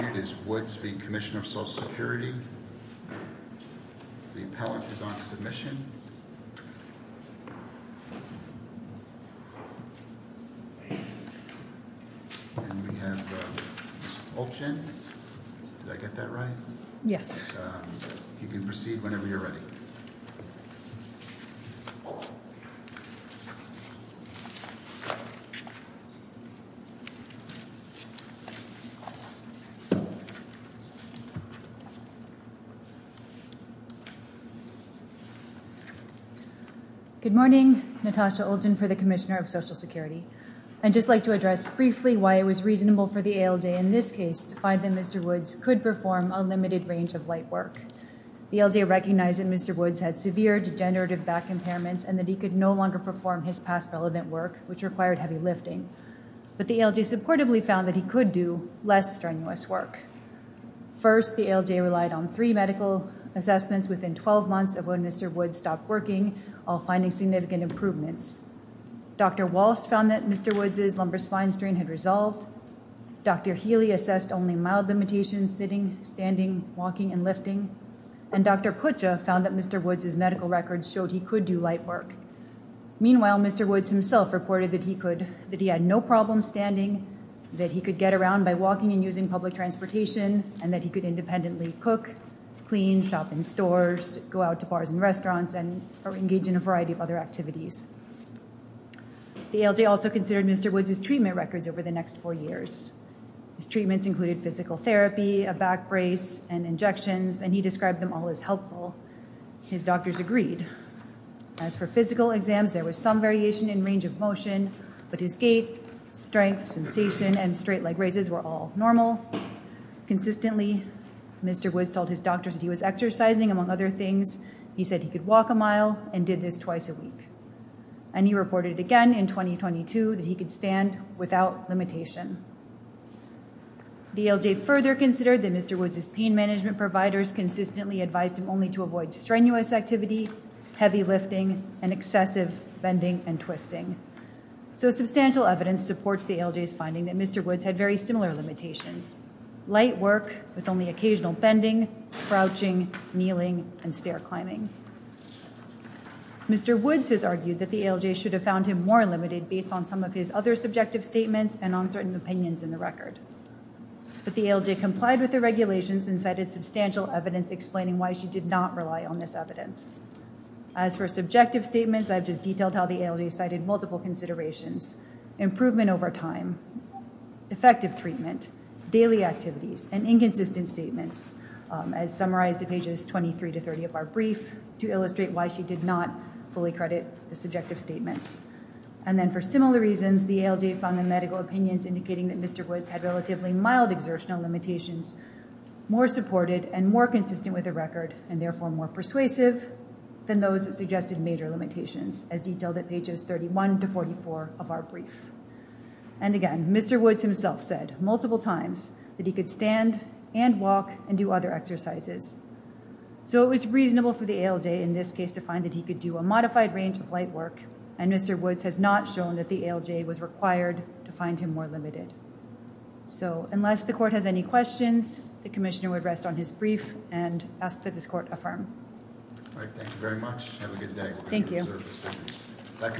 The appellate is on submission. And we have Ms. Olchen. Did I get that right? Yes. You can proceed whenever you're ready. Good morning. Natasha Olchen for the Commissioner of Social Security. I'd just like to address briefly why it was reasonable for the ALJ in this case to find that Mr. Woods could perform unlimited range of light work. The ALJ recognized that Mr. Woods had severe degenerative back impairments and that he could no longer perform his past relevant work, which required heavy lifting. But the ALJ supportively found that he could do less strenuous work. First, the ALJ relied on three medical assessments within 12 months of when Mr. Woods stopped working, all finding significant improvements. Dr. Walsh found that Mr. Woods' lumbar spine strain had resolved. Dr. Healy assessed only mild limitations, sitting, standing, walking, and lifting. And Dr. Pucha found that Mr. Woods' medical records showed he could do light work. Meanwhile, Mr. Woods himself reported that he had no problem standing, that he could get around by walking and using public transportation, and that he could independently cook, clean, shop in stores, go out to bars and restaurants, and engage in a variety of other activities. The ALJ also considered Mr. Woods' treatment records over the next four years. His treatments included physical therapy, a back brace, and injections, and he described them all as helpful. His doctors agreed. As for physical exams, there was some variation in range of motion, but his gait, strength, sensation, and straight leg raises were all normal. Consistently, Mr. Woods told his doctors that he was exercising. Among other things, he said he could walk a mile and did this twice a week. And he reported again in 2022 that he could stand without limitation. The ALJ further considered that Mr. Woods' pain management providers consistently advised him only to avoid strenuous activity, heavy lifting, and excessive bending and twisting. So substantial evidence supports the ALJ's finding that Mr. Woods had very similar limitations, light work with only occasional bending, crouching, kneeling, and stair climbing. Mr. Woods has argued that the ALJ should have found him more limited based on some of his other subjective statements and uncertain opinions in the record. But the ALJ complied with the regulations and cited substantial evidence explaining why she did not rely on this evidence. As for subjective statements, I've just detailed how the ALJ cited multiple considerations. Improvement over time, effective treatment, daily activities, and inconsistent statements as summarized in pages 23 to 30 of our brief to illustrate why she did not fully credit the subjective statements. And then for similar reasons, the ALJ found the medical opinions indicating that Mr. Woods had relatively mild exertional limitations, more supported and more consistent with the record, and therefore more persuasive than those that suggested major limitations, as detailed at pages 31 to 44 of our brief. And again, Mr. Woods himself said multiple times that he could stand and walk and do other exercises. So it was reasonable for the ALJ in this case to find that he could do a modified range of light work, and Mr. Woods has not shown that the ALJ was required to find him more limited. So unless the court has any questions, the commissioner would rest on his brief and ask that this court affirm. All right, thank you very much. Have a good day. Thank you.